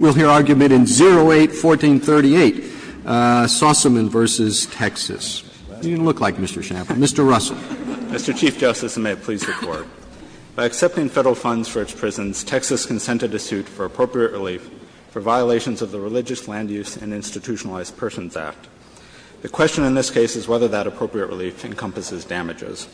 We'll hear argument in 08-1438, Sossamon v. Texas. What are you going to look like, Mr. Schnapple? Mr. Russell. Russell, Mr. Chief Justice, and may it please the Court. By accepting Federal funds for its prisons, Texas consented to suit for appropriate relief for violations of the Religious Land Use and Institutionalized Persons Act. The question in this case is whether that appropriate relief encompasses damages.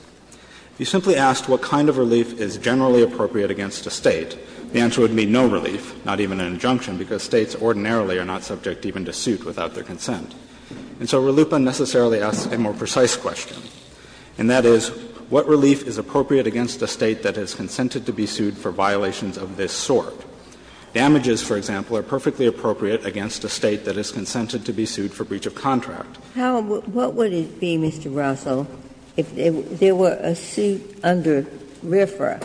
If you simply asked what kind of relief is generally appropriate against a State, the answer would be no relief, not even an injunction, because States ordinarily are not subject even to suit without their consent. And so RLUIPA necessarily asks a more precise question, and that is, what relief is appropriate against a State that has consented to be sued for violations of this sort? Damages, for example, are perfectly appropriate against a State that has consented to be sued for breach of contract. What would it be, Mr. Russell, if there were a suit under RFRA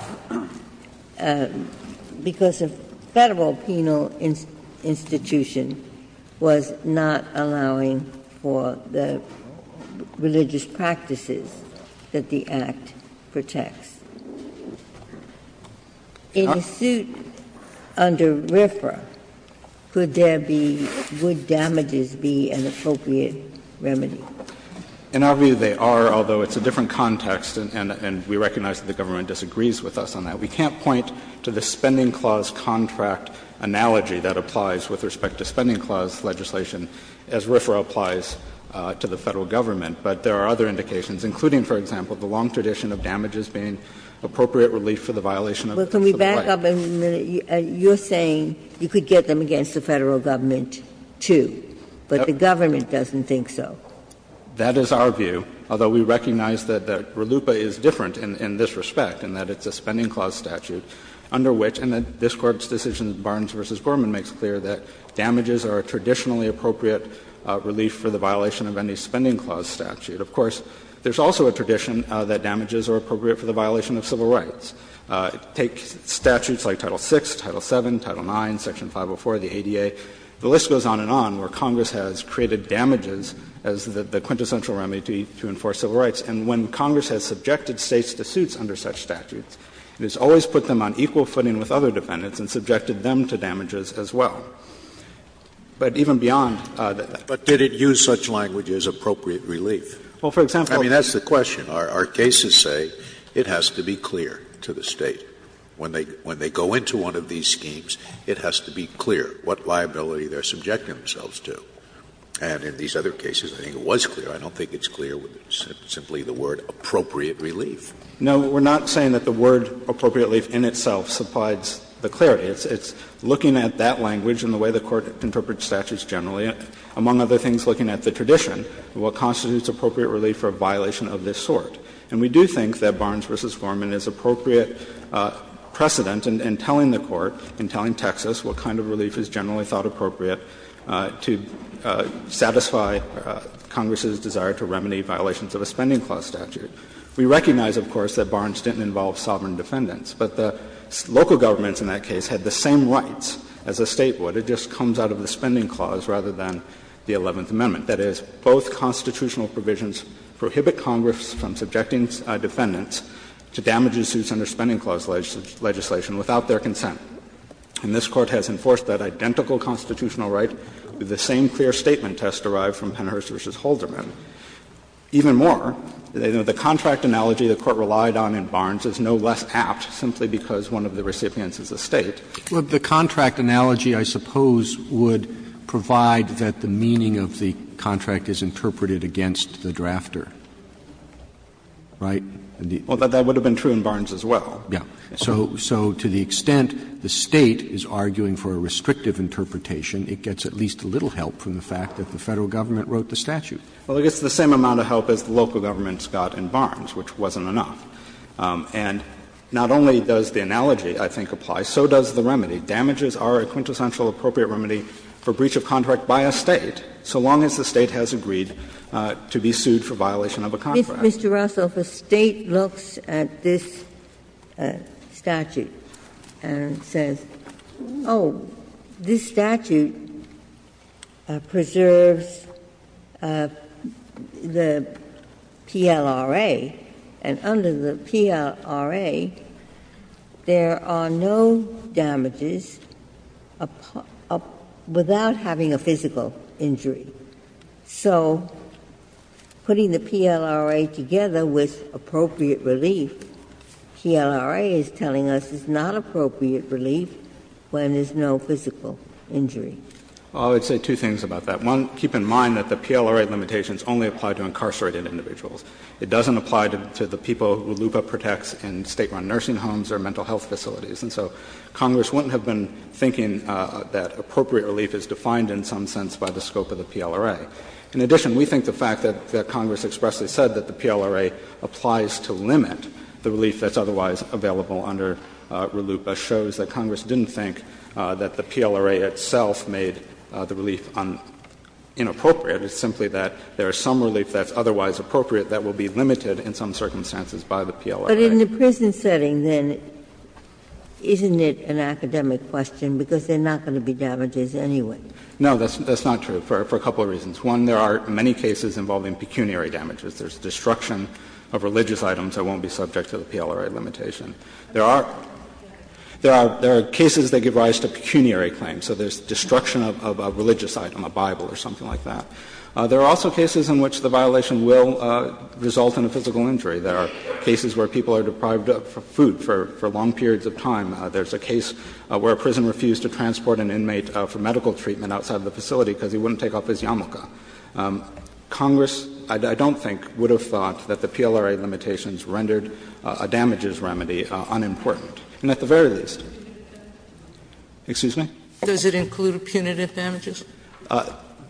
because a Federal penal institution was not allowing for the religious practices that the Act protects? In a suit under RFRA, could there be — would damages be an appropriate remedy? In our view, they are, although it's a different context, and we recognize that the Government disagrees with us on that. We can't point to the Spending Clause contract analogy that applies with respect to Spending Clause legislation as RFRA applies to the Federal Government. But there are other indications, including, for example, the long tradition of damages being appropriate relief for the violation of the right. Ginsburg. But can we back up a minute? You're saying you could get them against the Federal Government, too, but the Government doesn't think so. That is our view, although we recognize that RLUIPA is different in this respect, and that it's a Spending Clause statute under which — and this Court's decision, Barnes v. Gorman, makes clear that damages are a traditionally appropriate relief for the violation of any Spending Clause statute. Of course, there's also a tradition that damages are appropriate for the violation of civil rights. Take statutes like Title VI, Title VII, Title IX, Section 504 of the ADA. The list goes on and on where Congress has created damages as the quintessential remedy to enforce civil rights. And when Congress has subjected States to suits under such statutes, it has always put them on equal footing with other defendants and subjected them to damages as well. But even beyond that… Scalia. But did it use such language as appropriate relief? Well, for example… I mean, that's the question. Our cases say it has to be clear to the State. When they go into one of these schemes, it has to be clear what liability they're subjecting themselves to. And in these other cases, I think it was clear. I don't think it's clear simply the word appropriate relief. No, we're not saying that the word appropriate relief in itself supplies the clarity. It's looking at that language and the way the Court interprets statutes generally. Among other things, looking at the tradition and what constitutes appropriate relief for a violation of this sort. And we do think that Barnes v. Foreman is appropriate precedent in telling the Court and telling Texas what kind of relief is generally thought appropriate to satisfy Congress's desire to remedy violations of a spending clause statute. We recognize, of course, that Barnes didn't involve sovereign defendants. But the local governments in that case had the same rights as the State would. But it just comes out of the spending clause rather than the Eleventh Amendment. That is, both constitutional provisions prohibit Congress from subjecting defendants to damages suits under spending clause legislation without their consent. And this Court has enforced that identical constitutional right with the same clear statement test derived from Penhurst v. Holderman. Even more, the contract analogy the Court relied on in Barnes is no less apt simply because one of the recipients is the State. Roberts, the contract analogy, I suppose, would provide that the meaning of the contract is interpreted against the drafter. Right? Well, that would have been true in Barnes as well. Yeah. So to the extent the State is arguing for a restrictive interpretation, it gets at least a little help from the fact that the Federal government wrote the statute. Well, it gets the same amount of help as the local governments got in Barnes, which wasn't enough. And not only does the analogy, I think, apply, so does the remedy. Damages are a quintessential appropriate remedy for breach of contract by a State, so long as the State has agreed to be sued for violation of a contract. Mr. Russell, if a State looks at this statute and says, oh, this statute preserves the PLRA, and under the PLRA, there are no damages without having a physical injury. So putting the PLRA together with appropriate relief, PLRA is telling us it's not appropriate relief when there's no physical injury. Well, I would say two things about that. One, keep in mind that the PLRA limitations only apply to incarcerated individuals. It doesn't apply to the people RLUIPA protects in State-run nursing homes or mental health facilities. And so Congress wouldn't have been thinking that appropriate relief is defined in some sense by the scope of the PLRA. In addition, we think the fact that Congress expressly said that the PLRA applies to limit the relief that's otherwise available under RLUIPA shows that Congress didn't think that the PLRA itself made the relief inappropriate. It's simply that there is some relief that's otherwise appropriate that will be limited in some circumstances by the PLRA. Ginsburg. But in the prison setting, then, isn't it an academic question, because there are not going to be damages anyway? No, that's not true, for a couple of reasons. One, there are many cases involving pecuniary damages. There's destruction of religious items that won't be subject to the PLRA limitation. There are cases that give rise to pecuniary claims. So there's destruction of a religious item, a Bible or something like that. There are also cases in which the violation will result in a physical injury. There are cases where people are deprived of food for long periods of time. There's a case where a prison refused to transport an inmate for medical treatment outside of the facility because he wouldn't take off his yarmulke. Congress, I don't think, would have thought that the PLRA limitations rendered a damages remedy unimportant, and at the very least. Excuse me? Does it include punitive damages?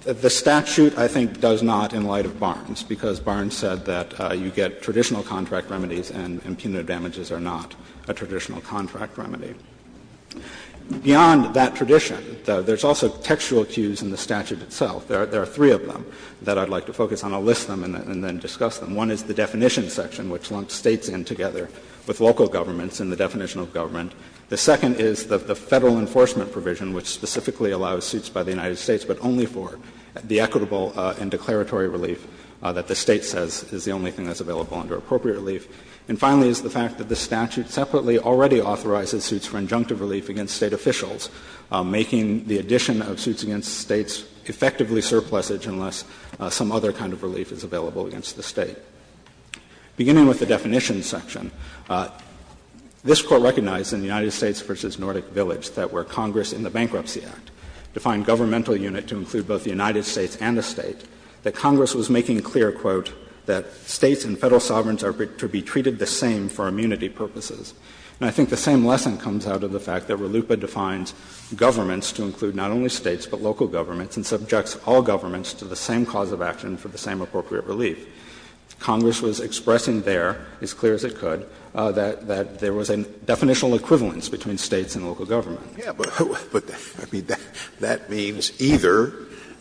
The statute, I think, does not in light of Barnes, because Barnes said that you get traditional contract remedies and punitive damages are not a traditional contract remedy. Beyond that tradition, there's also textual cues in the statute itself. There are three of them that I'd like to focus on. I'll list them and then discuss them. One is the definition section, which lumped States in together with local governments in the definition of government. The second is the Federal enforcement provision, which specifically allows suits by the United States, but only for the equitable and declaratory relief that the State says is the only thing that's available under appropriate relief. And finally is the fact that the statute separately already authorizes suits for injunctive relief against State officials, making the addition of suits against States effectively surplusage unless some other kind of relief is available against the State. Beginning with the definition section, this Court recognized in the United States v. Nordic Village that where Congress in the Bankruptcy Act defined governmental unit to include both the United States and a State, that Congress was making clear, quote, that States and Federal sovereigns are to be treated the same for immunity purposes. And I think the same lesson comes out of the fact that RLUIPA defines governments to include not only States but local governments and subjects all governments to the same cause of action for the same appropriate relief. Congress was expressing there, as clear as it could, that there was a definitional equivalence between States and local government. Scalia, but I mean, that means either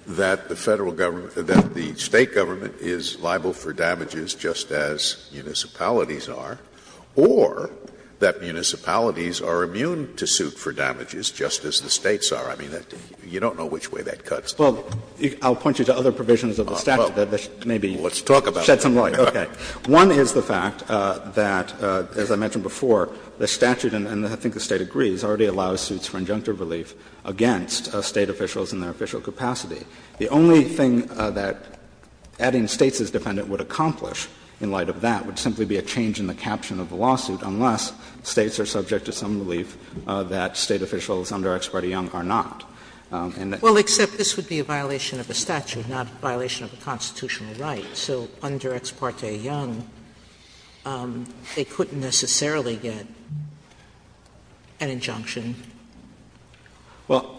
that the Federal government or that the State government is liable for damages just as municipalities are, or that municipalities are immune to suit for damages just as the States are. I mean, you don't know which way that cuts. Well, I'll point you to other provisions of the statute that maybe. Let's talk about it. Shed some light. Okay. One is the fact that, as I mentioned before, the statute, and I think the State agrees, already allows suits for injunctive relief against State officials in their official capacity. The only thing that adding States as defendant would accomplish in light of that would simply be a change in the caption of the lawsuit unless States are subject to some relief that State officials under Ex parte Young are not. And the. Sotomayor, well, except this would be a violation of the statute, not a violation of a constitutional right. So under Ex parte Young, they couldn't necessarily get an injunction. Well,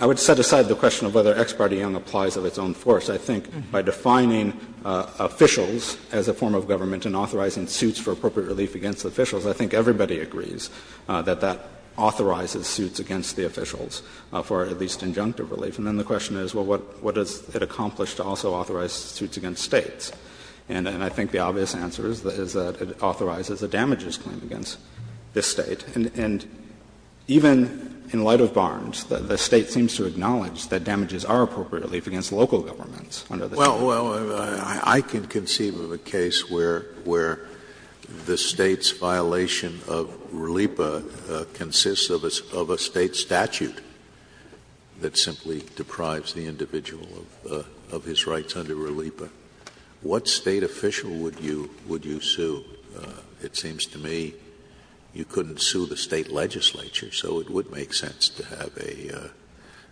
I would set aside the question of whether Ex parte Young applies of its own force. I think by defining officials as a form of government and authorizing suits for appropriate relief against officials, I think everybody agrees that that authorizes suits against the officials for at least injunctive relief. And then the question is, well, what does it accomplish to also authorize suits against States? And I think the obvious answer is that it authorizes a damages claim against this State. And even in light of Barnes, the State seems to acknowledge that damages are appropriate relief against local governments under this statute. Scalia, I can conceive of a case where the State's violation of RLIPA consists of a State statute that simply deprives the individual of his rights under RLIPA. What State official would you sue? It seems to me you couldn't sue the State legislature, so it would make sense to have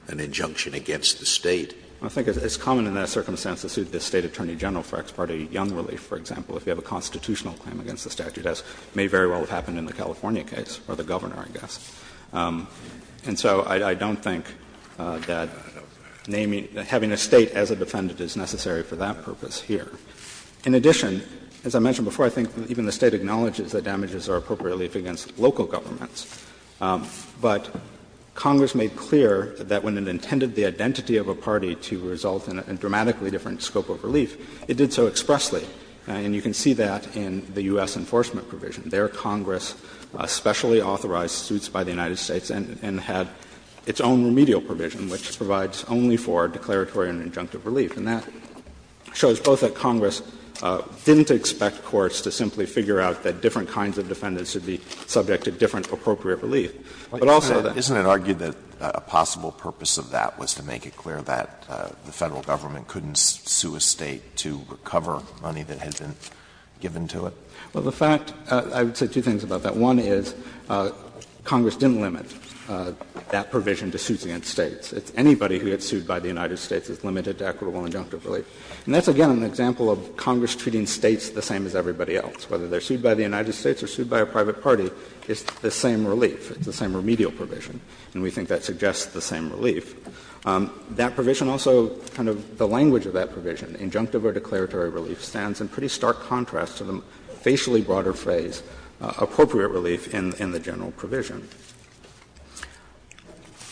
an injunction against the State. I think it's common in that circumstance to sue the State attorney general for Ex parte Young relief, for example, if you have a constitutional claim against the statute, as may very well have happened in the California case, or the Governor, I guess. And so I don't think that having a State as a defendant is necessary for that purpose here. In addition, as I mentioned before, I think even the State acknowledges that damages are appropriate relief against local governments. But Congress made clear that when it intended the identity of a party to result in a dramatically different scope of relief, it did so expressly. And you can see that in the U.S. enforcement provision. Their Congress specially authorized suits by the United States and had its own remedial provision, which provides only for declaratory and injunctive relief. And that shows both that Congress didn't expect courts to simply figure out that different kinds of defendants should be subject to different appropriate relief, but also that the State should be subject to different appropriate relief. But also, isn't it argued that a possible purpose of that was to make it clear that the Federal Government couldn't sue a State to recover money that had been given to it? Well, the fact — I would say two things about that. One is Congress didn't limit that provision to suits against States. Anybody who gets sued by the United States is limited to equitable injunctive relief. And that's, again, an example of Congress treating States the same as everybody else. Whether they're sued by the United States or sued by a private party, it's the same relief. It's the same remedial provision. And we think that suggests the same relief. That provision also, kind of the language of that provision, injunctive or declaratory relief, stands in pretty stark contrast to the facially broader phrase, appropriate relief, in the general provision.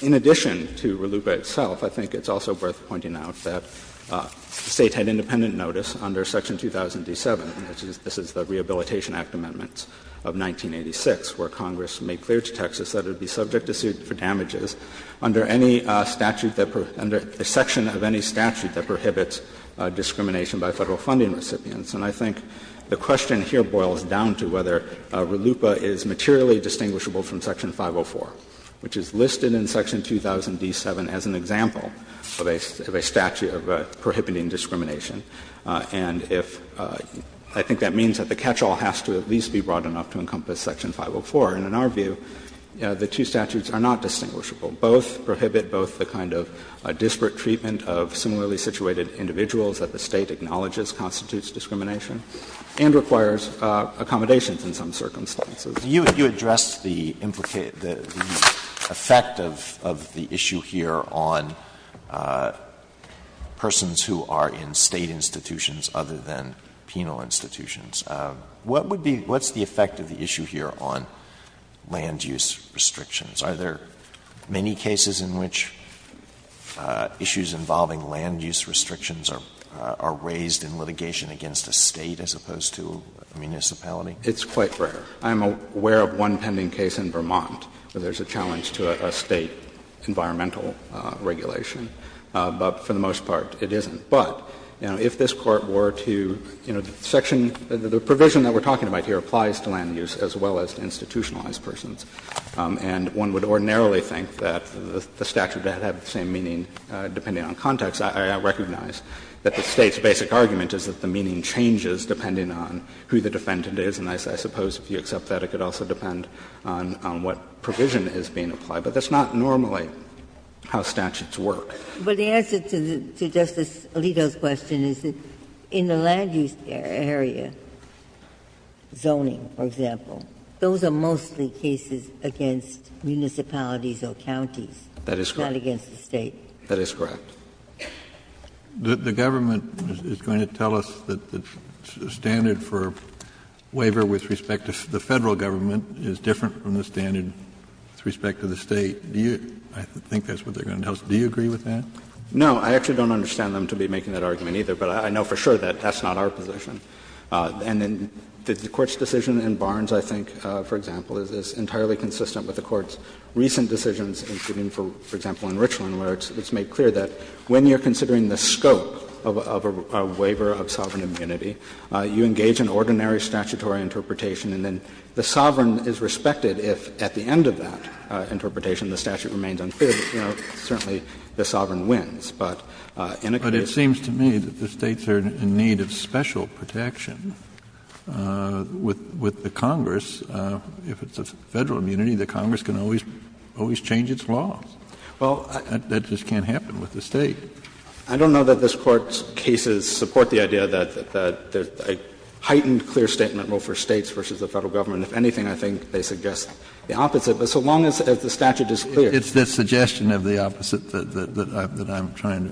In addition to RLUIPA itself, I think it's also worth pointing out that the State had independent notice under section 2007, and this is the Rehabilitation Act amendments of 1986, where Congress made clear to Texas that it would be subject to suit for damages under any statute that — under the section of any statute that prohibits discrimination by Federal funding recipients. And I think the question here boils down to whether RLUIPA is materially distinguishable from section 504, which is listed in section 2000d7 as an example of a statute of prohibiting discrimination. And if — I think that means that the catch-all has to at least be broad enough to encompass section 504. And in our view, the two statutes are not distinguishable. Both prohibit both the kind of disparate treatment of similarly situated individuals that the State acknowledges constitutes discrimination and requires accommodations in some circumstances. Alitoso, you addressed the implicated — the effect of the issue here on persons who are in State institutions other than penal institutions. What would be — what's the effect of the issue here on land-use restrictions? Are there many cases in which issues involving land-use restrictions are — are raised in litigation against a State as opposed to a municipality? It's quite rare. I'm aware of one pending case in Vermont where there's a challenge to a State environmental regulation, but for the most part it isn't. But, you know, if this Court were to, you know, section — the provision that we're talking about here applies to land-use as well as to institutionalized persons, and one would ordinarily think that the statute would have the same meaning depending on context. I recognize that the State's basic argument is that the meaning changes depending on who the defendant is, and I suppose if you accept that, it could also depend on what provision is being applied. But that's not normally how statutes work. But the answer to Justice Alito's question is that in the land-use area, zoning, for example, those are mostly cases against municipalities or counties. That is correct. Not against the State. That is correct. The government is going to tell us that the standard for waiver with respect to the Federal government is different from the standard with respect to the State. Do you — I think that's what they're going to tell us. Do you agree with that? No. I actually don't understand them to be making that argument either, but I know for sure that that's not our position. And then the Court's decision in Barnes, I think, for example, is entirely consistent with the Court's recent decisions, including, for example, in Richland, where it's made clear that when you're considering the scope of a waiver of sovereign immunity, you engage in ordinary statutory interpretation, and then the sovereign is respected if at the end of that interpretation the statute remains unclear. You know, certainly the sovereign wins, but in a case— But it seems to me that the States are in need of special protection with the Congress. If it's a Federal immunity, the Congress can always change its laws. Well, that just can't happen with the State. I don't know that this Court's cases support the idea that there's a heightened clear statement rule for States versus the Federal government. If anything, I think they suggest the opposite. But so long as the statute is clear— It's the suggestion of the opposite that I'm trying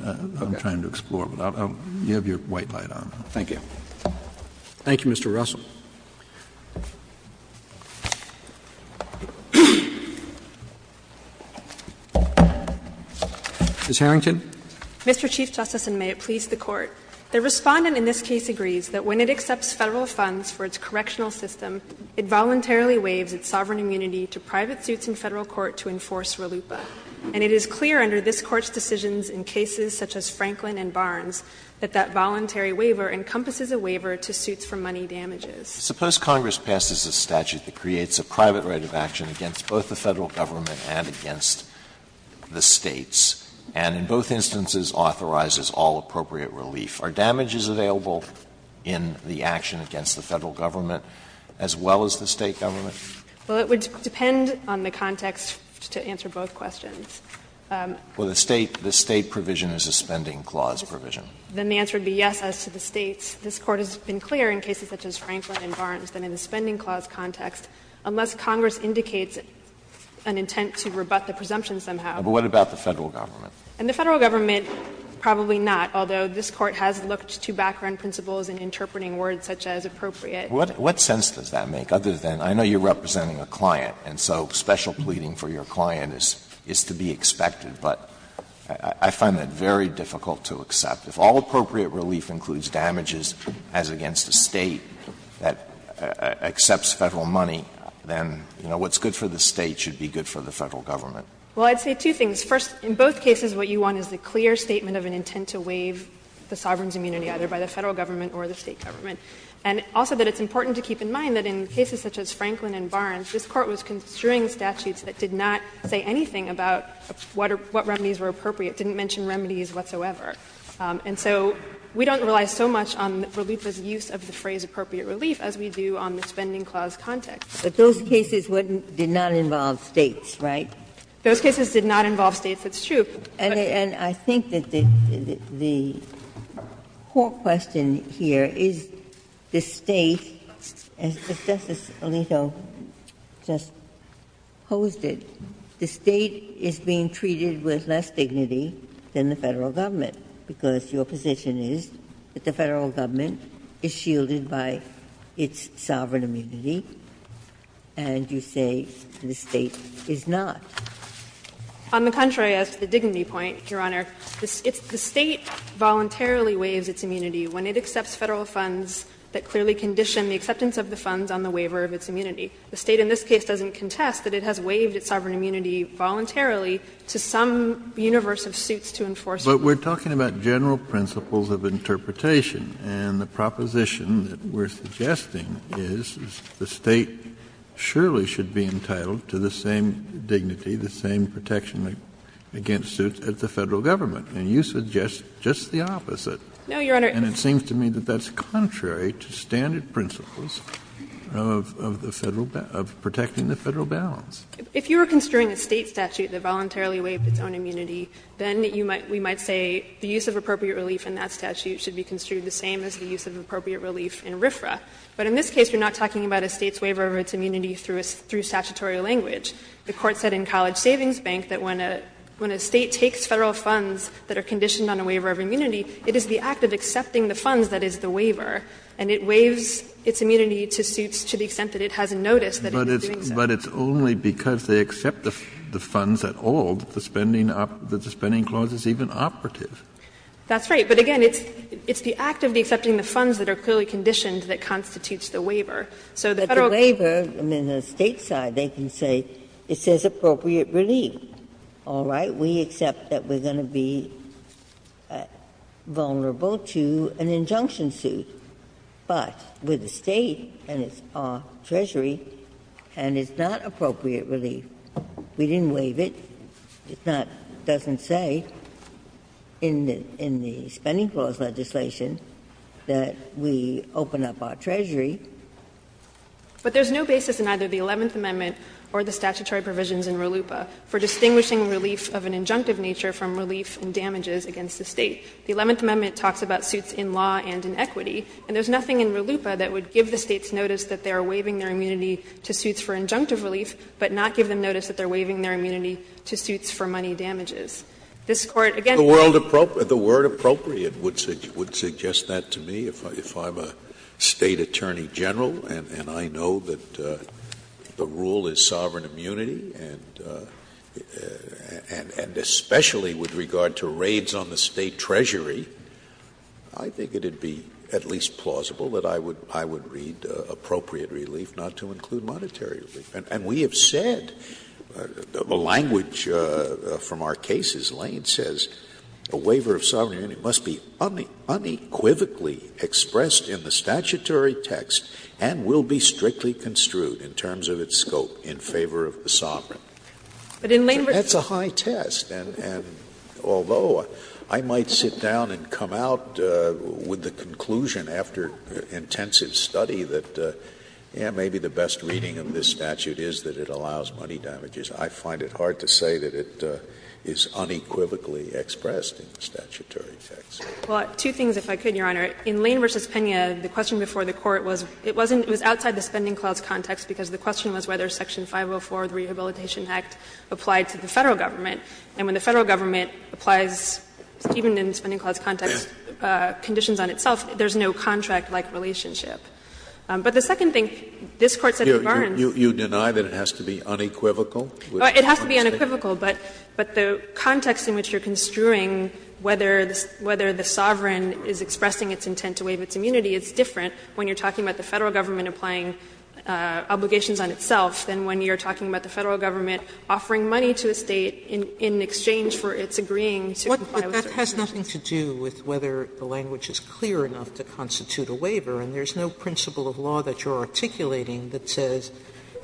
to explore. But you have your white light on. Thank you. Thank you, Mr. Russell. Ms. Harrington. Mr. Chief Justice, and may it please the Court. The Respondent in this case agrees that when it accepts Federal funds for its correctional system, it voluntarily waives its sovereign immunity to private suits in Federal court to enforce RLUIPA. And it is clear under this Court's decisions in cases such as Franklin and Barnes that that voluntary waiver encompasses a waiver to suits for money damages. Suppose Congress passes a statute that creates a private right of action against both the Federal government and against the States, and in both instances authorizes all appropriate relief. Are damages available in the action against the Federal government as well as the State government? Well, it would depend on the context to answer both questions. Well, the State provision is a spending clause provision. Then the answer would be yes, as to the States. This Court has been clear in cases such as Franklin and Barnes that in the spending clause context, unless Congress indicates an intent to rebut the presumption somehow. But what about the Federal government? In the Federal government, probably not, although this Court has looked to background principles in interpreting words such as appropriate. What sense does that make? Other than, I know you are representing a client, and so special pleading for your client is to be expected. But I find that very difficult to accept. If all appropriate relief includes damages as against the State that accepts Federal money, then, you know, what's good for the State should be good for the Federal government. Well, I'd say two things. First, in both cases, what you want is the clear statement of an intent to waive the sovereign's immunity, either by the Federal government or the State government. And also that it's important to keep in mind that in cases such as Franklin and Barnes, this Court was construing statutes that did not say anything about what remedies were appropriate, didn't mention remedies whatsoever. And so we don't rely so much on relief as use of the phrase appropriate relief as we do on the spending clause context. Ginsburg. But those cases didn't involve States, right? Those cases did not involve States, it's true. And I think that the core question here is the State, as Justice Alito just posed it, the State is being treated with less dignity than the Federal government, because your position is that the Federal government is shielded by its sovereign immunity, and you say the State is not. On the contrary, as to the dignity point, Your Honor, it's the State voluntarily waives its immunity when it accepts Federal funds that clearly condition the acceptance of the funds on the waiver of its immunity. The State in this case doesn't contest that it has waived its sovereign immunity voluntarily to some universe of suits to enforce it. But we're talking about general principles of interpretation, and the proposition that we're suggesting is the State surely should be entitled to the same dignity and the same protection against suits as the Federal government. And you suggest just the opposite. No, Your Honor. And it seems to me that that's contrary to standard principles of the Federal balance, of protecting the Federal balance. If you were construing a State statute that voluntarily waived its own immunity, then you might we might say the use of appropriate relief in that statute should be construed the same as the use of appropriate relief in RFRA. But in this case, you're not talking about a State's waiver of its immunity through statutory language. The Court said in College Savings Bank that when a State takes Federal funds that are conditioned on a waiver of immunity, it is the act of accepting the funds that is the waiver, and it waives its immunity to suits to the extent that it hasn't noticed that it is doing so. But it's only because they accept the funds at all that the spending clause is even operative. That's right. But again, it's the act of accepting the funds that are clearly conditioned that constitutes the waiver. So the Federal government can say, it says appropriate relief. All right. We accept that we're going to be vulnerable to an injunction suit. But with the State, and it's our treasury, and it's not appropriate relief. We didn't waive it. It's not, it doesn't say in the spending clause legislation that we open up our treasury to the State. But there's no basis in either the Eleventh Amendment or the statutory provisions in RLUIPA for distinguishing relief of an injunctive nature from relief in damages against the State. The Eleventh Amendment talks about suits in law and in equity, and there's nothing in RLUIPA that would give the States notice that they are waiving their immunity to suits for injunctive relief, but not give them notice that they are waiving their immunity to suits for money damages. This Court, again, can't say that. Scalia, the word appropriate would suggest that to me, if I'm a State attorney general, and I know that the rule is sovereign immunity, and especially with regard to raids on the State treasury, I think it would be at least plausible that I would read appropriate relief not to include monetary relief. And we have said, the language from our case is Lane says a waiver of sovereign immunity is a statutory text and will be strictly construed in terms of its scope in favor of the sovereign. That's a high test, and although I might sit down and come out with the conclusion after intensive study that maybe the best reading of this statute is that it allows money damages, I find it hard to say that it is unequivocally expressed in the statutory text. Well, two things, if I could, Your Honor. In Lane v. Pena, the question before the Court was, it wasn't, it was outside the Spending Clause context, because the question was whether Section 504 of the Rehabilitation Act applied to the Federal Government. And when the Federal Government applies, even in Spending Clause context, conditions on itself, there's no contract-like relationship. But the second thing, this Court said in Barnes. You deny that it has to be unequivocal? It has to be unequivocal, but the context in which you're construing whether the sovereign is expressing its intent to waive its immunity, it's different when you're talking about the Federal Government applying obligations on itself than when you're talking about the Federal Government offering money to a State in exchange for its agreeing to comply with certain conditions. Sotomayor, that has nothing to do with whether the language is clear enough to constitute a waiver, and there's no principle of law that you're articulating that says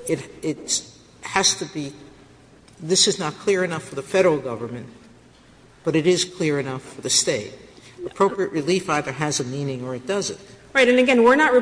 it has to be, this is not clear enough for the Federal Government, but it is clear enough for the State. Appropriate relief either has a meaning or it doesn't. Right. And again, we're not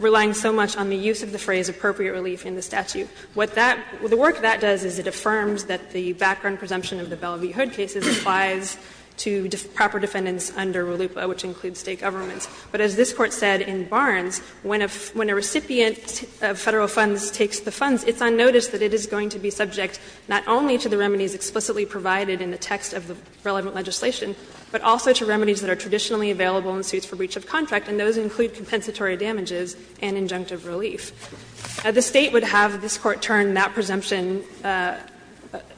relying so much on the use of the phrase ''appropriate relief'' in the statute. What that, the work that does is it affirms that the background presumption of the Bellevue Hood cases applies to proper defendants under RLUIPA, which includes State governments. But as this Court said in Barnes, when a recipient of Federal funds takes the funds, it's unnoticed that it is going to be subject not only to the remedies explicitly provided in the text of the relevant legislation, but also to remedies that are traditionally available in suits for breach of contract, and those include compensatory damages and injunctive relief. The State would have this Court turn that presumption,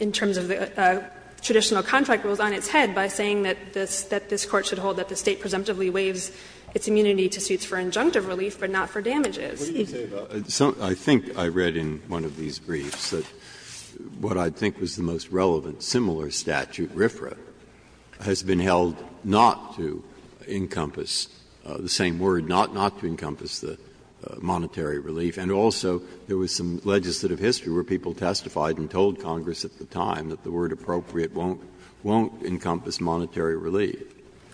in terms of the traditional contract rules, on its head by saying that this Court should hold that the State presumptively waives its immunity to suits for injunctive relief, but not for damages. Breyer, I think I read in one of these briefs that what I think was the most relevant quote, similar statute, RFRA, has been held not to encompass the same word, not to encompass the monetary relief, and also there was some legislative history where people testified and told Congress at the time that the word ''appropriate'' won't encompass monetary relief.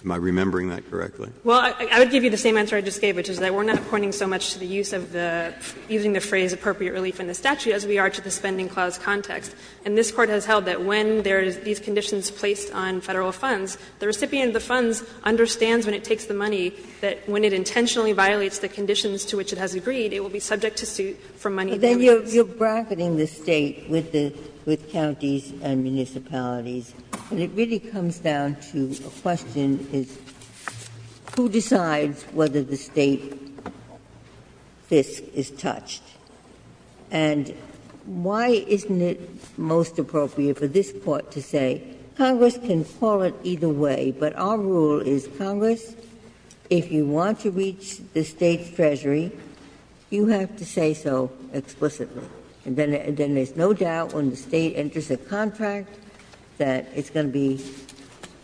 Am I remembering that correctly? Well, I would give you the same answer I just gave, which is that we're not pointing so much to the use of the using the phrase ''appropriate relief'' in the statute as we are to the Spending Clause context. And this Court has held that when there is these conditions placed on Federal funds, the recipient of the funds understands when it takes the money that when it intentionally violates the conditions to which it has agreed, it will be subject to suit for money damages. Ginsburg's But then you're bracketing the State with the counties and municipalities. And it really comes down to a question is who decides whether the State FISC is touched? And why isn't it most appropriate for this Court to say Congress can call it either way, but our rule is Congress, if you want to reach the State's treasury, you have to say so explicitly. And then there's no doubt when the State enters a contract that it's going to be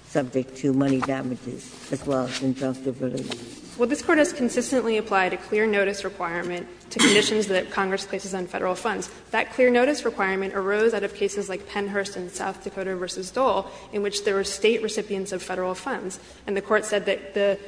subject to money damages as well as injunctive relief. Well, this Court has consistently applied a clear notice requirement to conditions that Congress places on Federal funds. That clear notice requirement arose out of cases like Pennhurst and South Dakota v. Dole, in which there were State recipients of Federal funds. And the Court said that the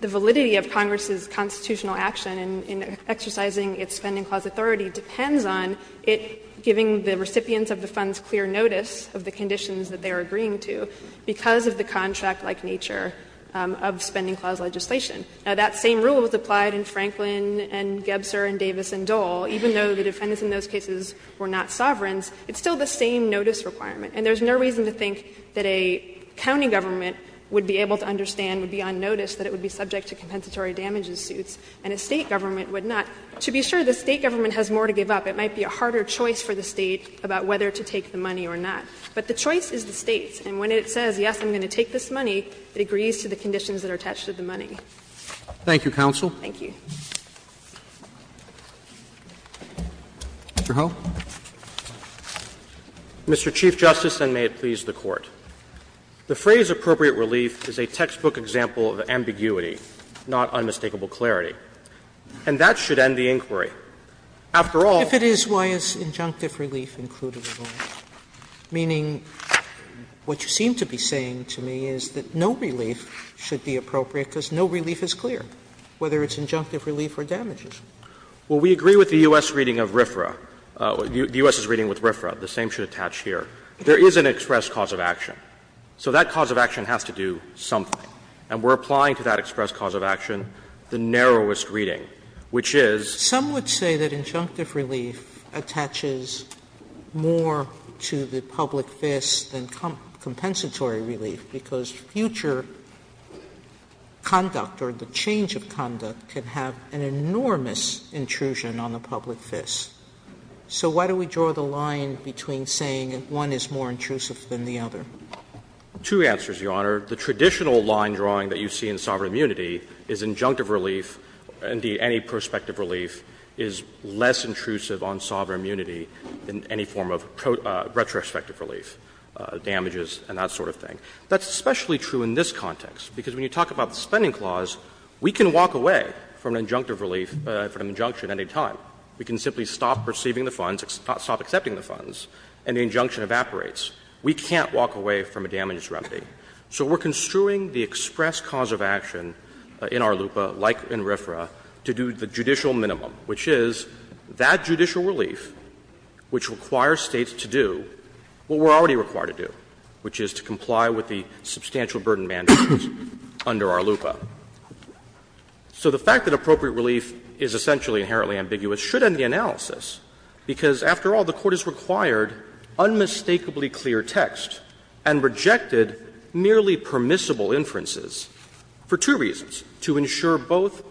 validity of Congress's constitutional action in exercising its Spending Clause authority depends on it giving the recipients of the funds clear notice of the conditions that they are agreeing to because of the contract-like nature of Spending Clause legislation. Now, that same rule was applied in Franklin and Gebser and Davis and Dole. Even though the defendants in those cases were not sovereigns, it's still the same notice requirement. And there's no reason to think that a county government would be able to understand would be on notice that it would be subject to compensatory damages suits, and a State government would not. To be sure, the State government has more to give up. It might be a harder choice for the State about whether to take the money or not. But the choice is the State's. And when it says, yes, I'm going to take this money, it agrees to the conditions that are attached to the money. Roberts. Thank you, counsel. Thank you. Mr. Ho. Mr. Chief Justice, and may it please the Court. The phrase, appropriate relief, is a textbook example of ambiguity, not unmistakable clarity. And that should end the inquiry. After all, if it is why is injunctive relief included at all? Meaning, what you seem to be saying to me is that no relief should be appropriate, because no relief is clear, whether it's injunctive relief or damages. Well, we agree with the U.S. reading of RFRA. The U.S. is reading with RFRA. The same should attach here. There is an express cause of action. So that cause of action has to do something. And we're applying to that express cause of action the narrowest reading, which is. Sotomayor, some would say that injunctive relief attaches more to the public fist than compensatory relief, because future conduct or the change of conduct can have an enormous intrusion on the public fist. So why do we draw the line between saying one is more intrusive than the other? Two answers, Your Honor. The traditional line drawing that you see in sovereign immunity is injunctive relief, indeed any prospective relief, is less intrusive on sovereign immunity than any form of retrospective relief, damages and that sort of thing. That's especially true in this context, because when you talk about the Spending Clause, we can walk away from an injunctive relief, from an injunction at any time. We can simply stop receiving the funds, stop accepting the funds, and the injunction evaporates. We can't walk away from a damages remedy. So we're construing the express cause of action in our LUPA, like in RFRA, to do the judicial minimum, which is that judicial relief, which requires States to do what we're already required to do, which is to comply with the substantial burden mandates under our LUPA. So the fact that appropriate relief is essentially inherently ambiguous should end the analysis, because after all, the Court has required unmistakably clear text and rejected merely permissible inferences for two reasons, to ensure both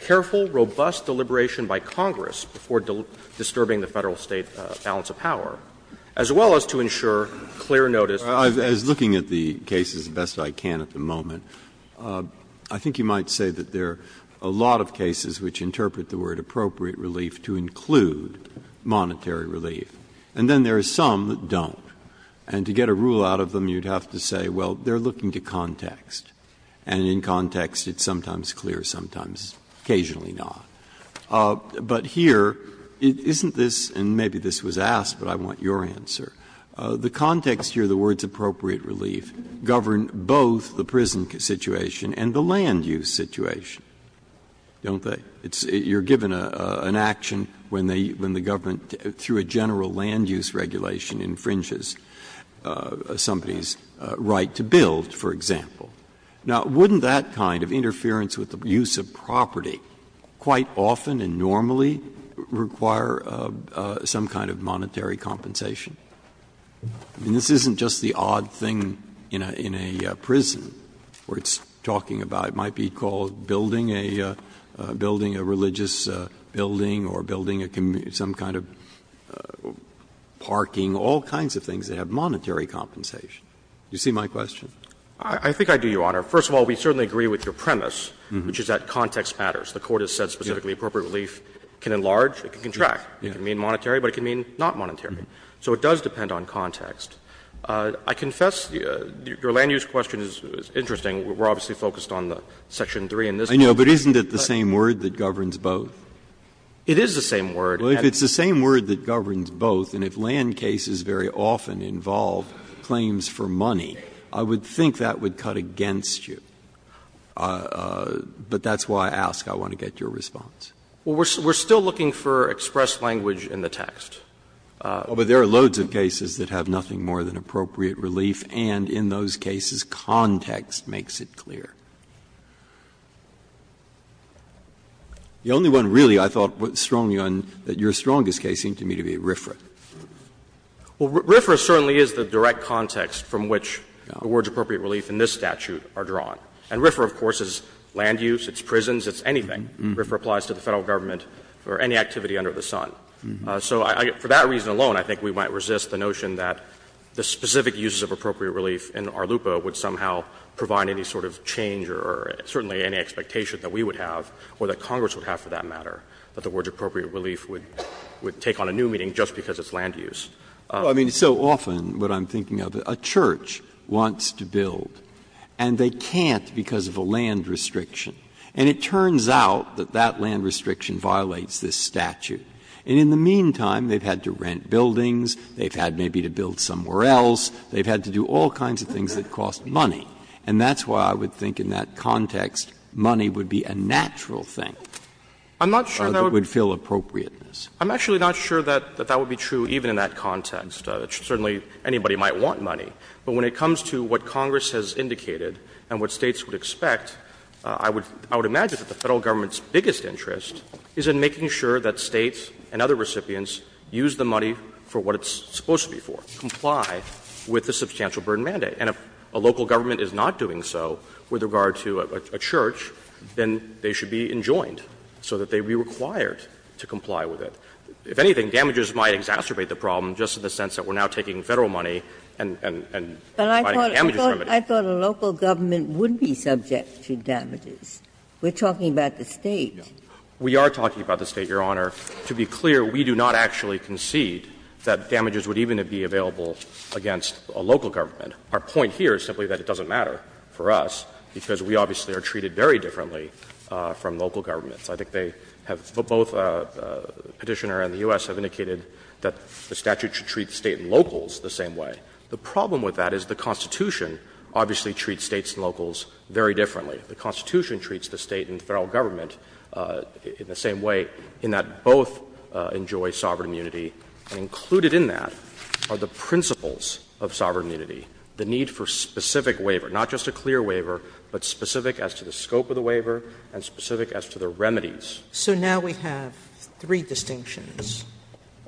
careful, robust deliberation by Congress before disturbing the Federal-State balance of power, as well as to ensure clear notice of the State's own. Breyer, as looking at the cases as best I can at the moment, I think you might say that there are a lot of cases which interpret the word appropriate relief to include monetary relief. And then there are some that don't. And to get a rule out of them, you'd have to say, well, they're looking to context, and in context it's sometimes clear, sometimes occasionally not. But here, isn't this, and maybe this was asked, but I want your answer, the context here, the words appropriate relief, govern both the prison situation and the land use situation, don't they? You're given an action when the government, through a general land use regulation, infringes somebody's right to build, for example. Now, wouldn't that kind of interference with the use of property quite often and normally require some kind of monetary compensation? I mean, this isn't just the odd thing in a prison where it's talking about, it might be called building a religious building or building some kind of parking, all kinds of things that have monetary compensation. Do you see my question? I think I do, Your Honor. First of all, we certainly agree with your premise, which is that context matters. The Court has said specifically appropriate relief can enlarge, it can contract. It can mean monetary, but it can mean not monetary. So it does depend on context. I confess your land use question is interesting. We're obviously focused on the section 3 in this case. Breyer, I know, but isn't it the same word that governs both? It is the same word. Well, if it's the same word that governs both, and if land cases very often involve claims for money, I would think that would cut against you. But that's why I ask, I want to get your response. Well, we're still looking for expressed language in the text. But there are loads of cases that have nothing more than appropriate relief, and in those cases, context makes it clear. The only one, really, I thought strongly on, that your strongest case seemed to me to be RFRA. Well, RFRA certainly is the direct context from which the words appropriate relief in this statute are drawn. And RFRA, of course, is land use, it's prisons, it's anything. RFRA applies to the Federal Government for any activity under the sun. So for that reason alone, I think we might resist the notion that the specific uses of appropriate relief in ARLUPA would somehow provide any sort of change or certainly any expectation that we would have or that Congress would have for that matter, that the words appropriate relief would take on a new meaning just because it's land use. Breyer. I mean, so often what I'm thinking of, a church wants to build, and they can't because of a land restriction. And it turns out that that land restriction violates this statute. And in the meantime, they've had to rent buildings, they've had maybe to build somewhere they've had to do all kinds of things that cost money. And that's why I would think in that context, money would be a natural thing. I'm not sure that would fill appropriateness. I'm actually not sure that that would be true even in that context. Certainly anybody might want money. But when it comes to what Congress has indicated and what States would expect, I would imagine that the Federal Government's biggest interest is in making sure that States and other recipients use the money for what it's supposed to be for, comply with the substantial burden mandate. And if a local government is not doing so with regard to a church, then they should be enjoined so that they would be required to comply with it. If anything, damages might exacerbate the problem just in the sense that we're now taking Federal money and providing damages for everybody. Ginsburg. But I thought a local government would be subject to damages. We're talking about the State. We are talking about the State, Your Honor. To be clear, we do not actually concede that damages would even be available against a local government. Our point here is simply that it doesn't matter for us, because we obviously are treated very differently from local governments. I think they have — both Petitioner and the U.S. have indicated that the statute should treat the State and locals the same way. The problem with that is the Constitution obviously treats States and locals very differently. The Constitution treats the State and Federal government in the same way, in that both enjoy sovereign immunity, and included in that are the principles of sovereign immunity, the need for specific waiver, not just a clear waiver, but specific as to the scope of the waiver and specific as to the remedies. Sotomayor. So now we have three distinctions.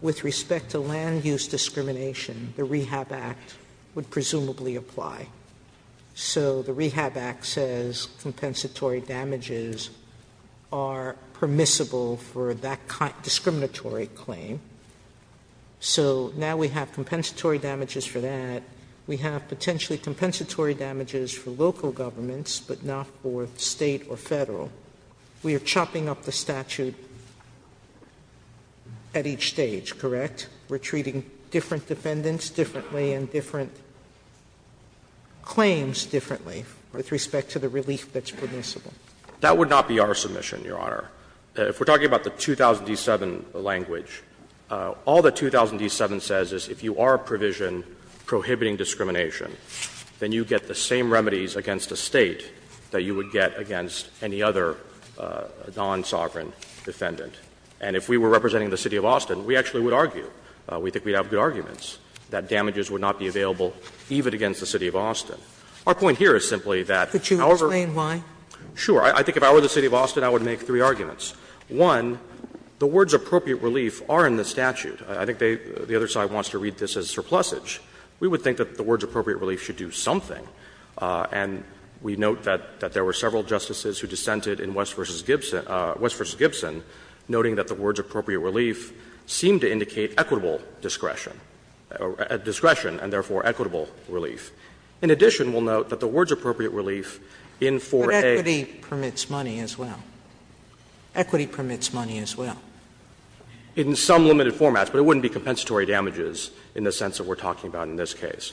With respect to land use discrimination, the Rehab Act would presumably apply. So the Rehab Act says compensatory damages are permissible for that kind of discriminatory claim. So now we have compensatory damages for that. We have potentially compensatory damages for local governments, but not for State or Federal. We are chopping up the statute at each stage, correct? We are treating different defendants differently and different — claims differently with respect to the relief that's permissible. That would not be our submission, Your Honor. If we are talking about the 2007 language, all that 2007 says is if you are a provision prohibiting discrimination, then you get the same remedies against a State that you would get against any other non-sovereign defendant. And if we were representing the City of Austin, we actually would argue, we think we'd have good arguments, that damages would not be available even against the City of Austin. Our point here is simply that, however — Sotomayor, could you explain why? Sure. I think if I were the City of Austin, I would make three arguments. One, the words appropriate relief are in the statute. I think they — the other side wants to read this as surplusage. We would think that the words appropriate relief should do something. And we note that there were several justices who dissented in West v. Gibson, noting that the words appropriate relief seem to indicate equitable discretion — discretion and therefore equitable relief. In addition, we'll note that the words appropriate relief in 4A— But equity permits money as well. Equity permits money as well. In some limited formats, but it wouldn't be compensatory damages in the sense that we are talking about in this case.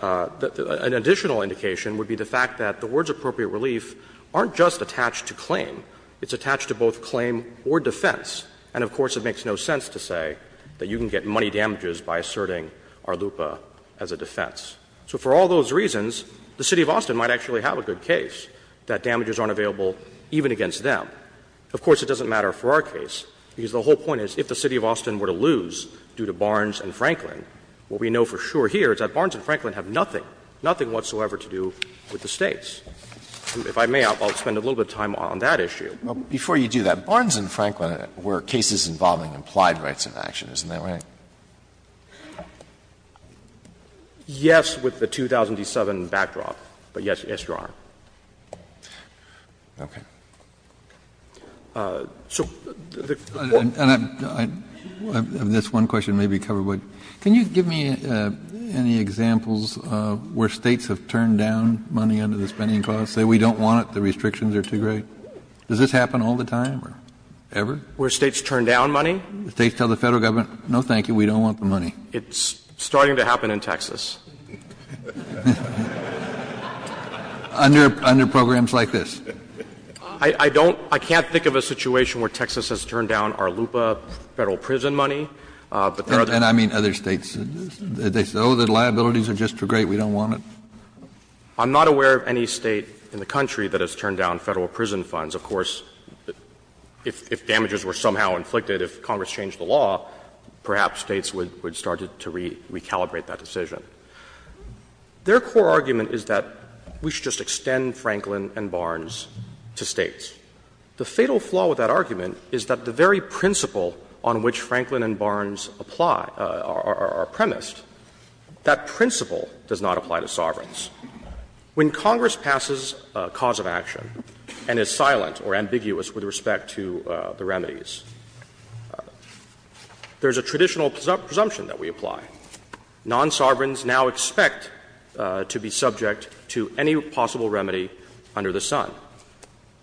An additional indication would be the fact that the words appropriate relief aren't just attached to claim. It's attached to both claim or defense. And of course, it makes no sense to say that you can get money damages by asserting Arluppa as a defense. So for all those reasons, the City of Austin might actually have a good case that damages aren't available even against them. Of course, it doesn't matter for our case, because the whole point is if the City of Austin were to lose due to Barnes and Franklin, what we know for sure here is that Barnes and Franklin have nothing, nothing whatsoever to do with the States. If I may, I'll spend a little bit of time on that issue. Alito, before you do that, Barnes and Franklin were cases involving implied rights of action, isn't that right? Yes, with the 2007 backdrop, but yes, Your Honor. Okay. So the court— Kennedy, I have this one question maybe covered, but can you give me any examples where States have turned down money under the Spending Clause, say we don't want it, the restrictions are too great? Does this happen all the time or ever? Where States turn down money? States tell the Federal Government, no, thank you, we don't want the money. It's starting to happen in Texas. Under programs like this? I don't — I can't think of a situation where Texas has turned down Arluppa Federal prison money. And I mean other States. They say, oh, the liabilities are just too great, we don't want it? I'm not aware of any State in the country that has turned down Federal prison funds. Of course, if damages were somehow inflicted, if Congress changed the law, perhaps States would start to recalibrate that decision. Their core argument is that we should just extend Franklin and Barnes to States. The fatal flaw with that argument is that the very principle on which Franklin and Barnes apply — are premised, that principle does not apply to sovereigns. When Congress passes a cause of action and is silent or ambiguous with respect to the remedies, there is a traditional presumption that we apply. Non-sovereigns now expect to be subject to any possible remedy under the sun.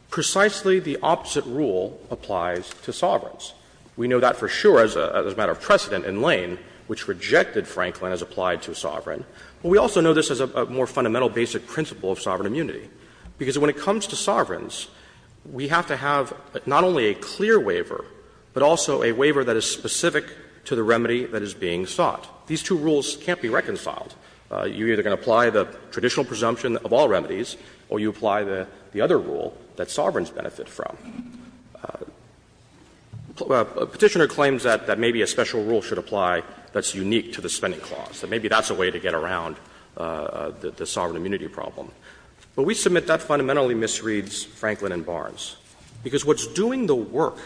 Precisely the opposite rule applies to sovereigns. We know that for sure as a matter of precedent in Lane, which rejected Franklin as applied to a sovereign. But we also know this as a more fundamental basic principle of sovereign immunity. Because when it comes to sovereigns, we have to have not only a clear waiver, but also a waiver that is specific to the remedy that is being sought. These two rules can't be reconciled. You're either going to apply the traditional presumption of all remedies or you apply the other rule that sovereigns benefit from. A Petitioner claims that maybe a special rule should apply that's unique to the Spending Clause, that maybe that's a way to get around the sovereign immunity problem. But we submit that fundamentally misreads Franklin and Barnes, because what's doing the work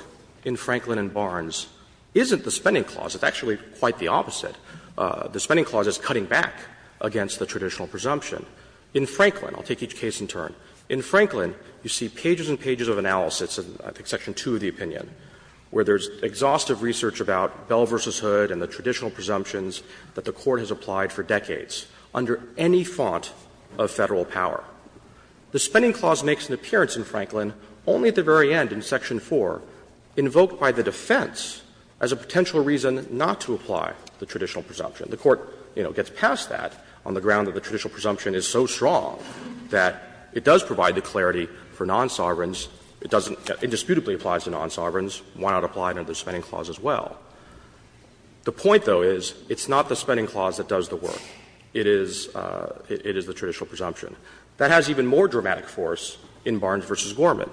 in Franklin and Barnes isn't the Spending Clause. It's actually quite the opposite. The Spending Clause is cutting back against the traditional presumption. In Franklin, I'll take each case in turn, in Franklin you see pages and pages of analysis in I think section 2 of the opinion, where there's exhaustive research about Bell v. Hood and the traditional presumptions that the Court has applied for decades under any font of Federal power. The Spending Clause makes an appearance in Franklin only at the very end in section 4, invoked by the defense as a potential reason not to apply the traditional presumption. The Court, you know, gets past that on the ground that the traditional presumption is so strong that it does provide the clarity for non-sovereigns. It doesn't get indisputably applies to non-sovereigns. Why not apply it under the Spending Clause as well? The point, though, is it's not the Spending Clause that does the work. It is the traditional presumption. That has even more dramatic force in Barnes v. Gorman.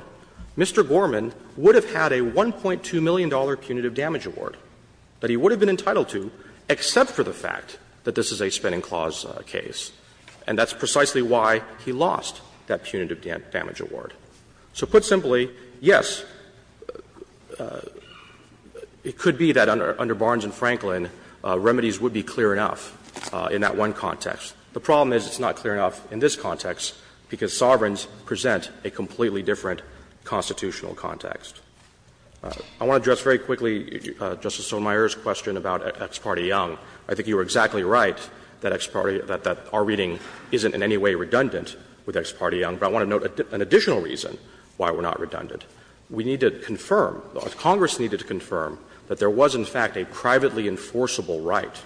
Mr. Gorman would have had a $1.2 million punitive damage award that he would have been entitled to except for the fact that this is a Spending Clause case, and that's precisely why he lost that punitive damage award. So put simply, yes, it could be that under Barnes v. Franklin, remedies would be clear enough in that one context. The problem is it's not clear enough in this context, because sovereigns present a completely different constitutional context. I want to address very quickly Justice Sotomayor's question about Ex parte Young. I think you were exactly right that Ex parte — that our reading isn't in any way redundant with Ex parte Young. But I want to note an additional reason why we're not redundant. We need to confirm, Congress needed to confirm, that there was in fact a privately enforceable right.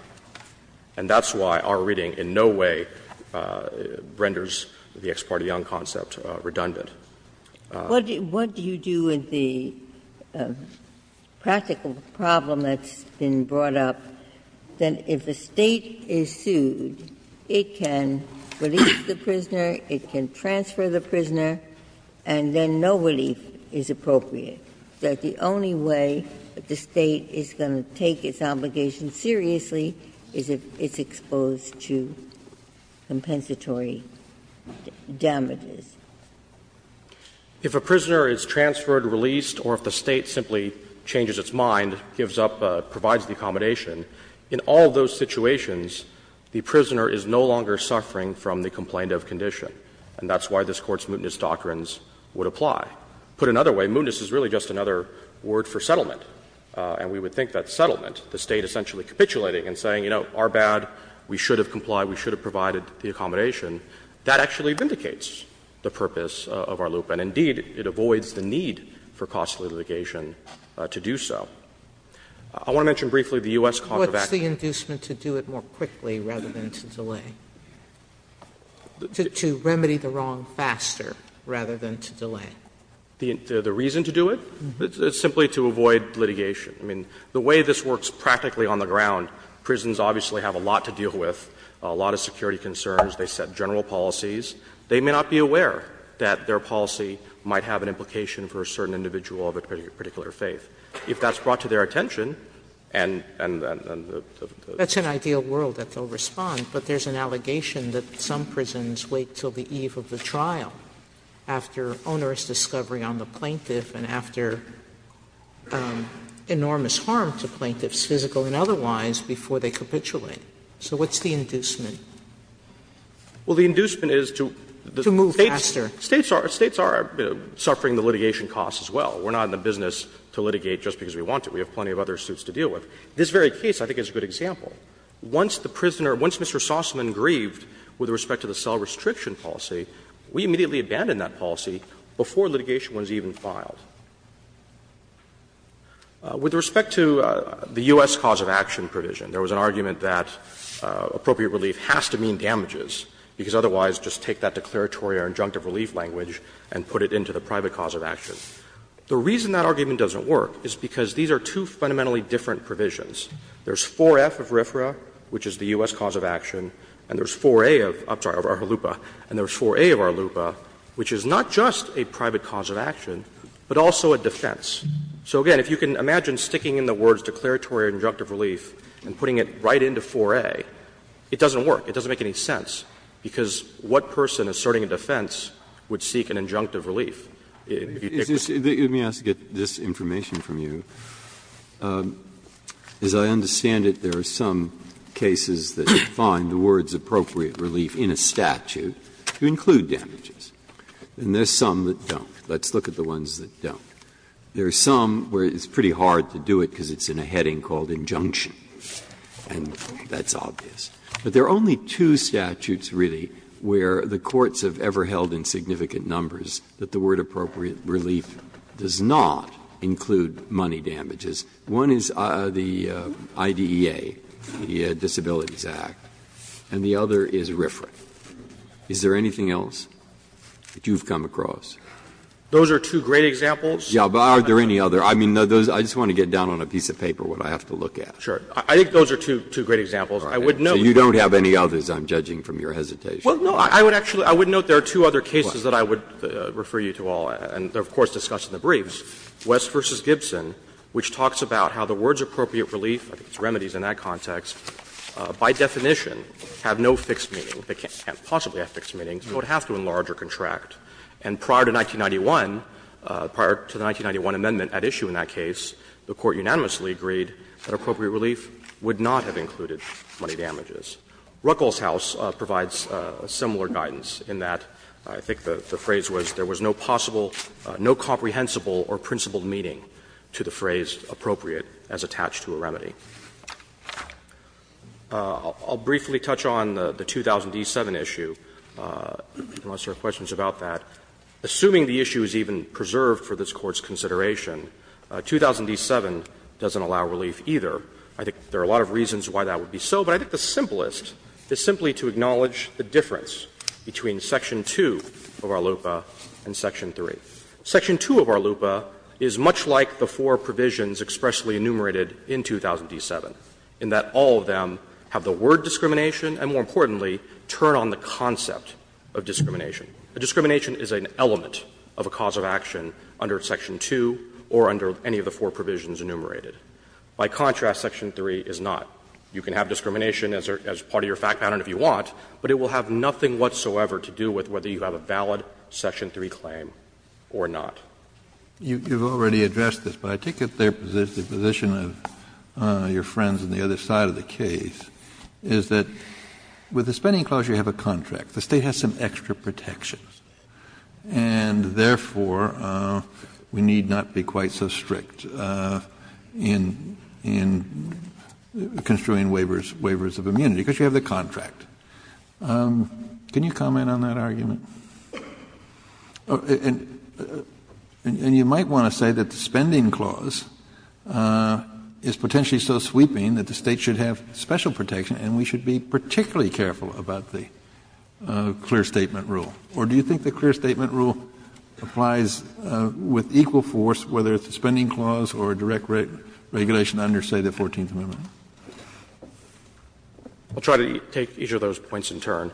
And that's why our reading in no way renders the Ex parte Young concept redundant. Ginsburg. Ginsburg. What do you do with the practical problem that's been brought up, that if a State is sued, it can release the prisoner, it can transfer the prisoner, and then no relief is appropriate, that the only way the State is going to take its obligation seriously is if it's exposed to compensatory damages? If a prisoner is transferred, released, or if the State simply changes its mind, gives up, provides the accommodation, in all those situations, the prisoner is no longer suffering from the complaint of condition. And that's why this Court's mootness doctrines would apply. Put another way, mootness is really just another word for settlement. And we would think that settlement, the State essentially capitulating and saying, you know, our bad, we should have complied, we should have provided the accommodation, that actually vindicates the purpose of our loop. And indeed, it avoids the need for costly litigation to do so. I want to mention briefly the U.S. contravecta. Sotomayor, What's the inducement to do it more quickly rather than to delay? To remedy the wrong faster rather than to delay. The reason to do it, it's simply to avoid litigation. I mean, the way this works practically on the ground, prisons obviously have a lot to deal with, a lot of security concerns. They set general policies. They may not be aware that their policy might have an implication for a certain individual of a particular faith. If that's brought to their attention, and then the other thing is that's an ideal world that they'll respond. But there's an allegation that some prisons wait until the eve of the trial after onerous discovery on the plaintiff and after enormous harm to plaintiffs, physical and otherwise, before they capitulate. So what's the inducement? Well, the inducement is to the States are suffering the litigation costs as well. We're not in the business to litigate just because we want to. We have plenty of other suits to deal with. This very case, I think, is a good example. Once the prisoner, once Mr. Sossaman grieved with respect to the cell restriction policy, we immediately abandoned that policy before litigation was even filed. With respect to the U.S. cause of action provision, there was an argument that appropriate relief has to mean damages, because otherwise, just take that declaratory or injunctive relief language and put it into the private cause of action. The reason that argument doesn't work is because these are two fundamentally different provisions. There's 4F of RFRA, which is the U.S. cause of action, and there's 4A of, I'm sorry, of ARHLUPA, and there's 4A of ARHLUPA, which is not just a private cause of action, but also a defense. So, again, if you can imagine sticking in the words declaratory or injunctive relief and putting it right into 4A, it doesn't work. It doesn't make any sense, because what person asserting a defense would seek an injunctive relief? Breyer, let me ask to get this information from you. As I understand it, there are some cases that define the words appropriate relief in a statute to include damages, and there are some that don't. Let's look at the ones that don't. There are some where it's pretty hard to do it because it's in a heading called injunction, and that's obvious. But there are only two statutes, really, where the courts have ever held in significant numbers that the word appropriate relief does not include money damages. One is the IDEA, the Disabilities Act, and the other is RFRA. Is there anything else that you've come across? Those are two great examples. Yeah, but are there any other? I mean, those are just going to get down on a piece of paper what I have to look at. Sure. I think those are two great examples. I would note. So you don't have any others, I'm judging from your hesitation. Well, no, I would actually note there are two other cases that I would refer you to all, and they are, of course, discussed in the briefs. West v. Gibson, which talks about how the words appropriate relief, I think it's remedies in that context, by definition have no fixed meaning. They can't possibly have fixed meaning, so it would have to enlarge or contract. And prior to 1991, prior to the 1991 amendment at issue in that case, the Court unanimously agreed that appropriate relief would not have included money damages. Ruckelshaus provides similar guidance in that I think the phrase was there was no possible no comprehensible or principled meaning to the phrase appropriate as attached to a remedy. I'll briefly touch on the 2000d7 issue, unless there are questions about that. Assuming the issue is even preserved for this Court's consideration, 2000d7 doesn't allow relief either. I think there are a lot of reasons why that would be so, but I think the simplest is simply to acknowledge the difference between section 2 of our LUPA and section 3. Section 2 of our LUPA is much like the four provisions expressly enumerated in 2000d7, in that all of them have the word discrimination and, more importantly, turn on the concept of discrimination. A discrimination is an element of a cause of action under section 2 or under any of the four provisions enumerated. By contrast, section 3 is not. You can have discrimination as part of your fact pattern if you want, but it will have nothing whatsoever to do with whether you have a valid section 3 claim or not. You've already addressed this, but I take it the position of your friends on the other side of the case is that with the spending clause, you have a contract. The State has some extra protections, and therefore, we need not be quite so strict. in construing waivers of immunity, because you have the contract. Can you comment on that argument? You might want to say that the spending clause is potentially so sweeping that the State should have special protection, and we should be particularly careful about the clear statement rule. Or do you think the clear statement rule applies with equal force, whether it's the spending clause or direct regulation under, say, the Fourteenth Amendment? I'll try to take each of those points in turn.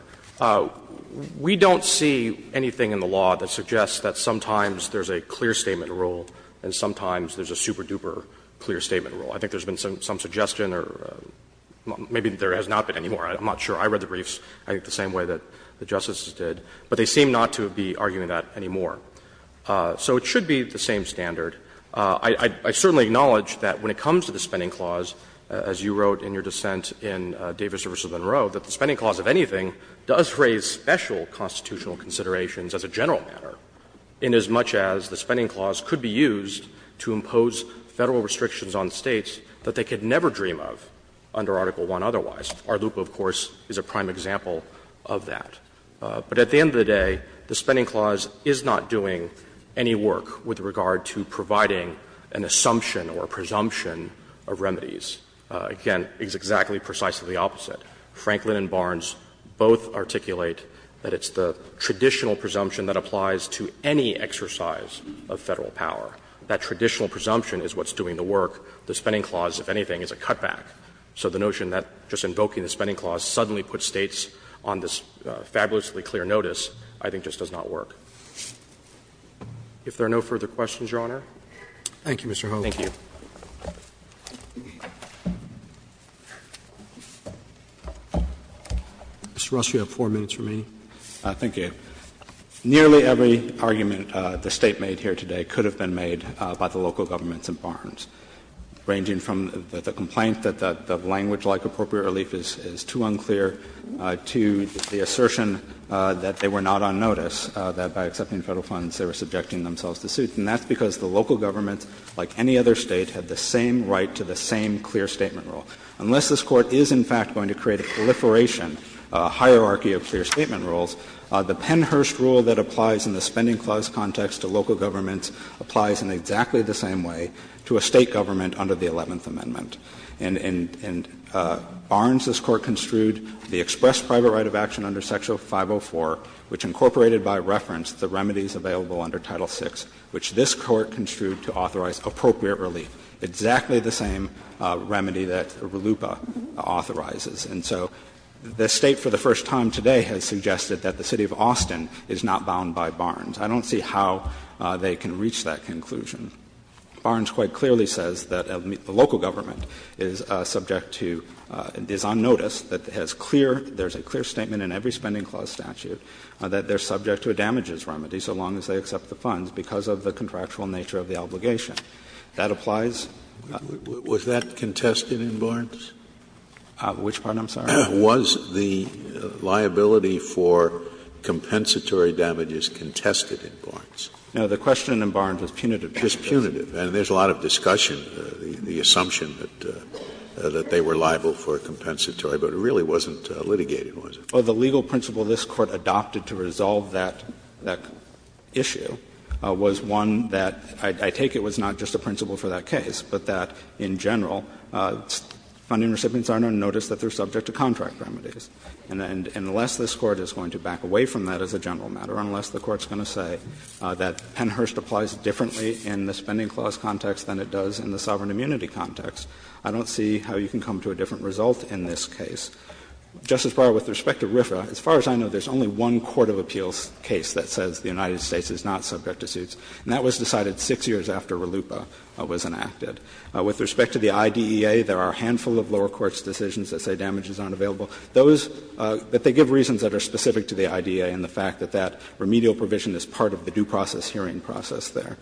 We don't see anything in the law that suggests that sometimes there's a clear statement rule and sometimes there's a super-duper clear statement rule. I think there's been some suggestion or maybe there has not been anymore. I'm not sure. I read the briefs, I think, the same way that the justices did. But they seem not to be arguing that anymore. So it should be the same standard. I certainly acknowledge that when it comes to the spending clause, as you wrote in your dissent in Davis v. Monroe, that the spending clause, if anything, does raise special constitutional considerations as a general matter, inasmuch as the spending clause could be used to impose Federal restrictions on States that they could never dream of under Article I otherwise. Our loophole, of course, is a prime example of that. But at the end of the day, the spending clause is not doing any work with regard to providing an assumption or a presumption of remedies. Again, it's exactly precisely the opposite. Franklin and Barnes both articulate that it's the traditional presumption that applies to any exercise of Federal power. That traditional presumption is what's doing the work. The spending clause, if anything, is a cutback. So the notion that just invoking the spending clause suddenly puts States on this fabulously clear notice I think just does not work. If there are no further questions, Your Honor. Roberts Thank you, Mr. Holmes. Holmes, thank you. Mr. Ross, you have 4 minutes remaining. Ross Thank you. Nearly every argument the State made here today could have been made by the local governments and Barnes, ranging from the complaint that the language like appropriate relief is too unclear to the assertion that they were not on notice, that by accepting Federal funds they were subjecting themselves to suits. And that's because the local governments, like any other State, have the same right to the same clear statement rule. Unless this Court is, in fact, going to create a proliferation hierarchy of clear statement rules, the Pennhurst rule that applies in the spending clause context to local governments applies in exactly the same way to a State government under the Eleventh Amendment. And Barnes's court construed the express private right of action under Section 504, which incorporated by reference the remedies available under Title VI, which this Court construed to authorize appropriate relief, exactly the same remedy that RLUIPA authorizes. And so the State for the first time today has suggested that the City of Austin is not bound by Barnes. I don't see how they can reach that conclusion. Barnes quite clearly says that the local government is subject to, is on notice, that has clear, there's a clear statement in every spending clause statute, that they're subject to a damages remedy so long as they accept the funds because of the contractual nature of the obligation. That applies. Scalia, was that contested in Barnes? Which part, I'm sorry? Was the liability for compensatory damages contested in Barnes? Now, the question in Barnes was punitive. Just punitive. And there's a lot of discussion, the assumption that they were liable for compensatory, but it really wasn't litigated, was it? Well, the legal principle this Court adopted to resolve that issue was one that, I take it, was not just a principle for that case, but that, in general, funding recipients are on notice that they're subject to contract remedies. And unless this Court is going to back away from that as a general matter, unless the Court's going to say that Pennhurst applies differently in the spending clause context than it does in the sovereign immunity context, I don't see how you can come to a different result in this case. Justice Breyer, with respect to RFRA, as far as I know, there's only one court of appeals case that says the United States is not subject to suits, and that was decided 6 years after RLUIPA was enacted. With respect to the IDEA, there are a handful of lower courts' decisions that say damages aren't available. Those that they give reasons that are specific to the IDEA and the fact that that remedial provision is part of the due process hearing process there.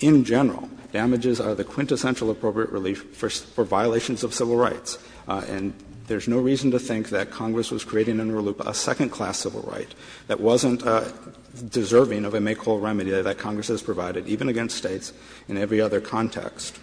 In general, damages are the quintessential appropriate relief for violations of civil rights, and there's no reason to think that Congress was creating in RLUIPA a second-class civil right that wasn't deserving of a make-all remedy that Congress has provided, even against States in every other context.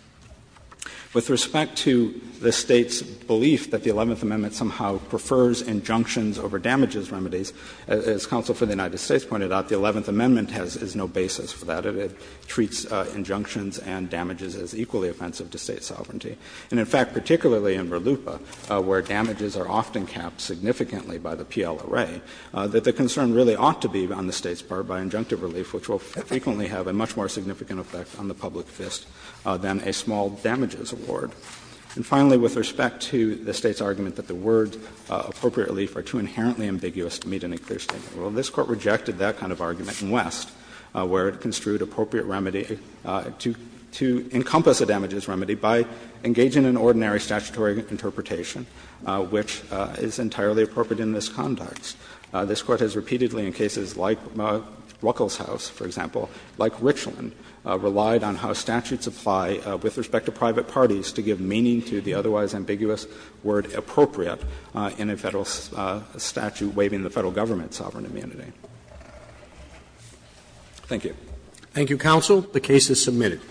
With respect to the State's belief that the Eleventh Amendment somehow prefers injunctions over damages remedies, as counsel for the United States pointed out, the Eleventh Amendment has no basis for that. It treats injunctions and damages as equally offensive to State sovereignty. And in fact, particularly in RLUIPA, where damages are often capped significantly by the PLRA, that the concern really ought to be on the State's part by injunctive relief, which will frequently have a much more significant effect on the public interest than a small damages award. And finally, with respect to the State's argument that the words appropriate relief are too inherently ambiguous to meet any clear statement, well, this Court rejected that kind of argument in West, where it construed appropriate remedy to encompass a damages remedy by engaging in ordinary statutory interpretation, which is entirely appropriate in this context. This Court has repeatedly, in cases like Ruckelshaus, for example, like Richland, relied on how statutes apply with respect to private parties to give meaning to the otherwise ambiguous word appropriate in a Federal statute waiving the Federal Government's sovereign amenity. Thank you. Roberts. Thank you, counsel. The case is submitted.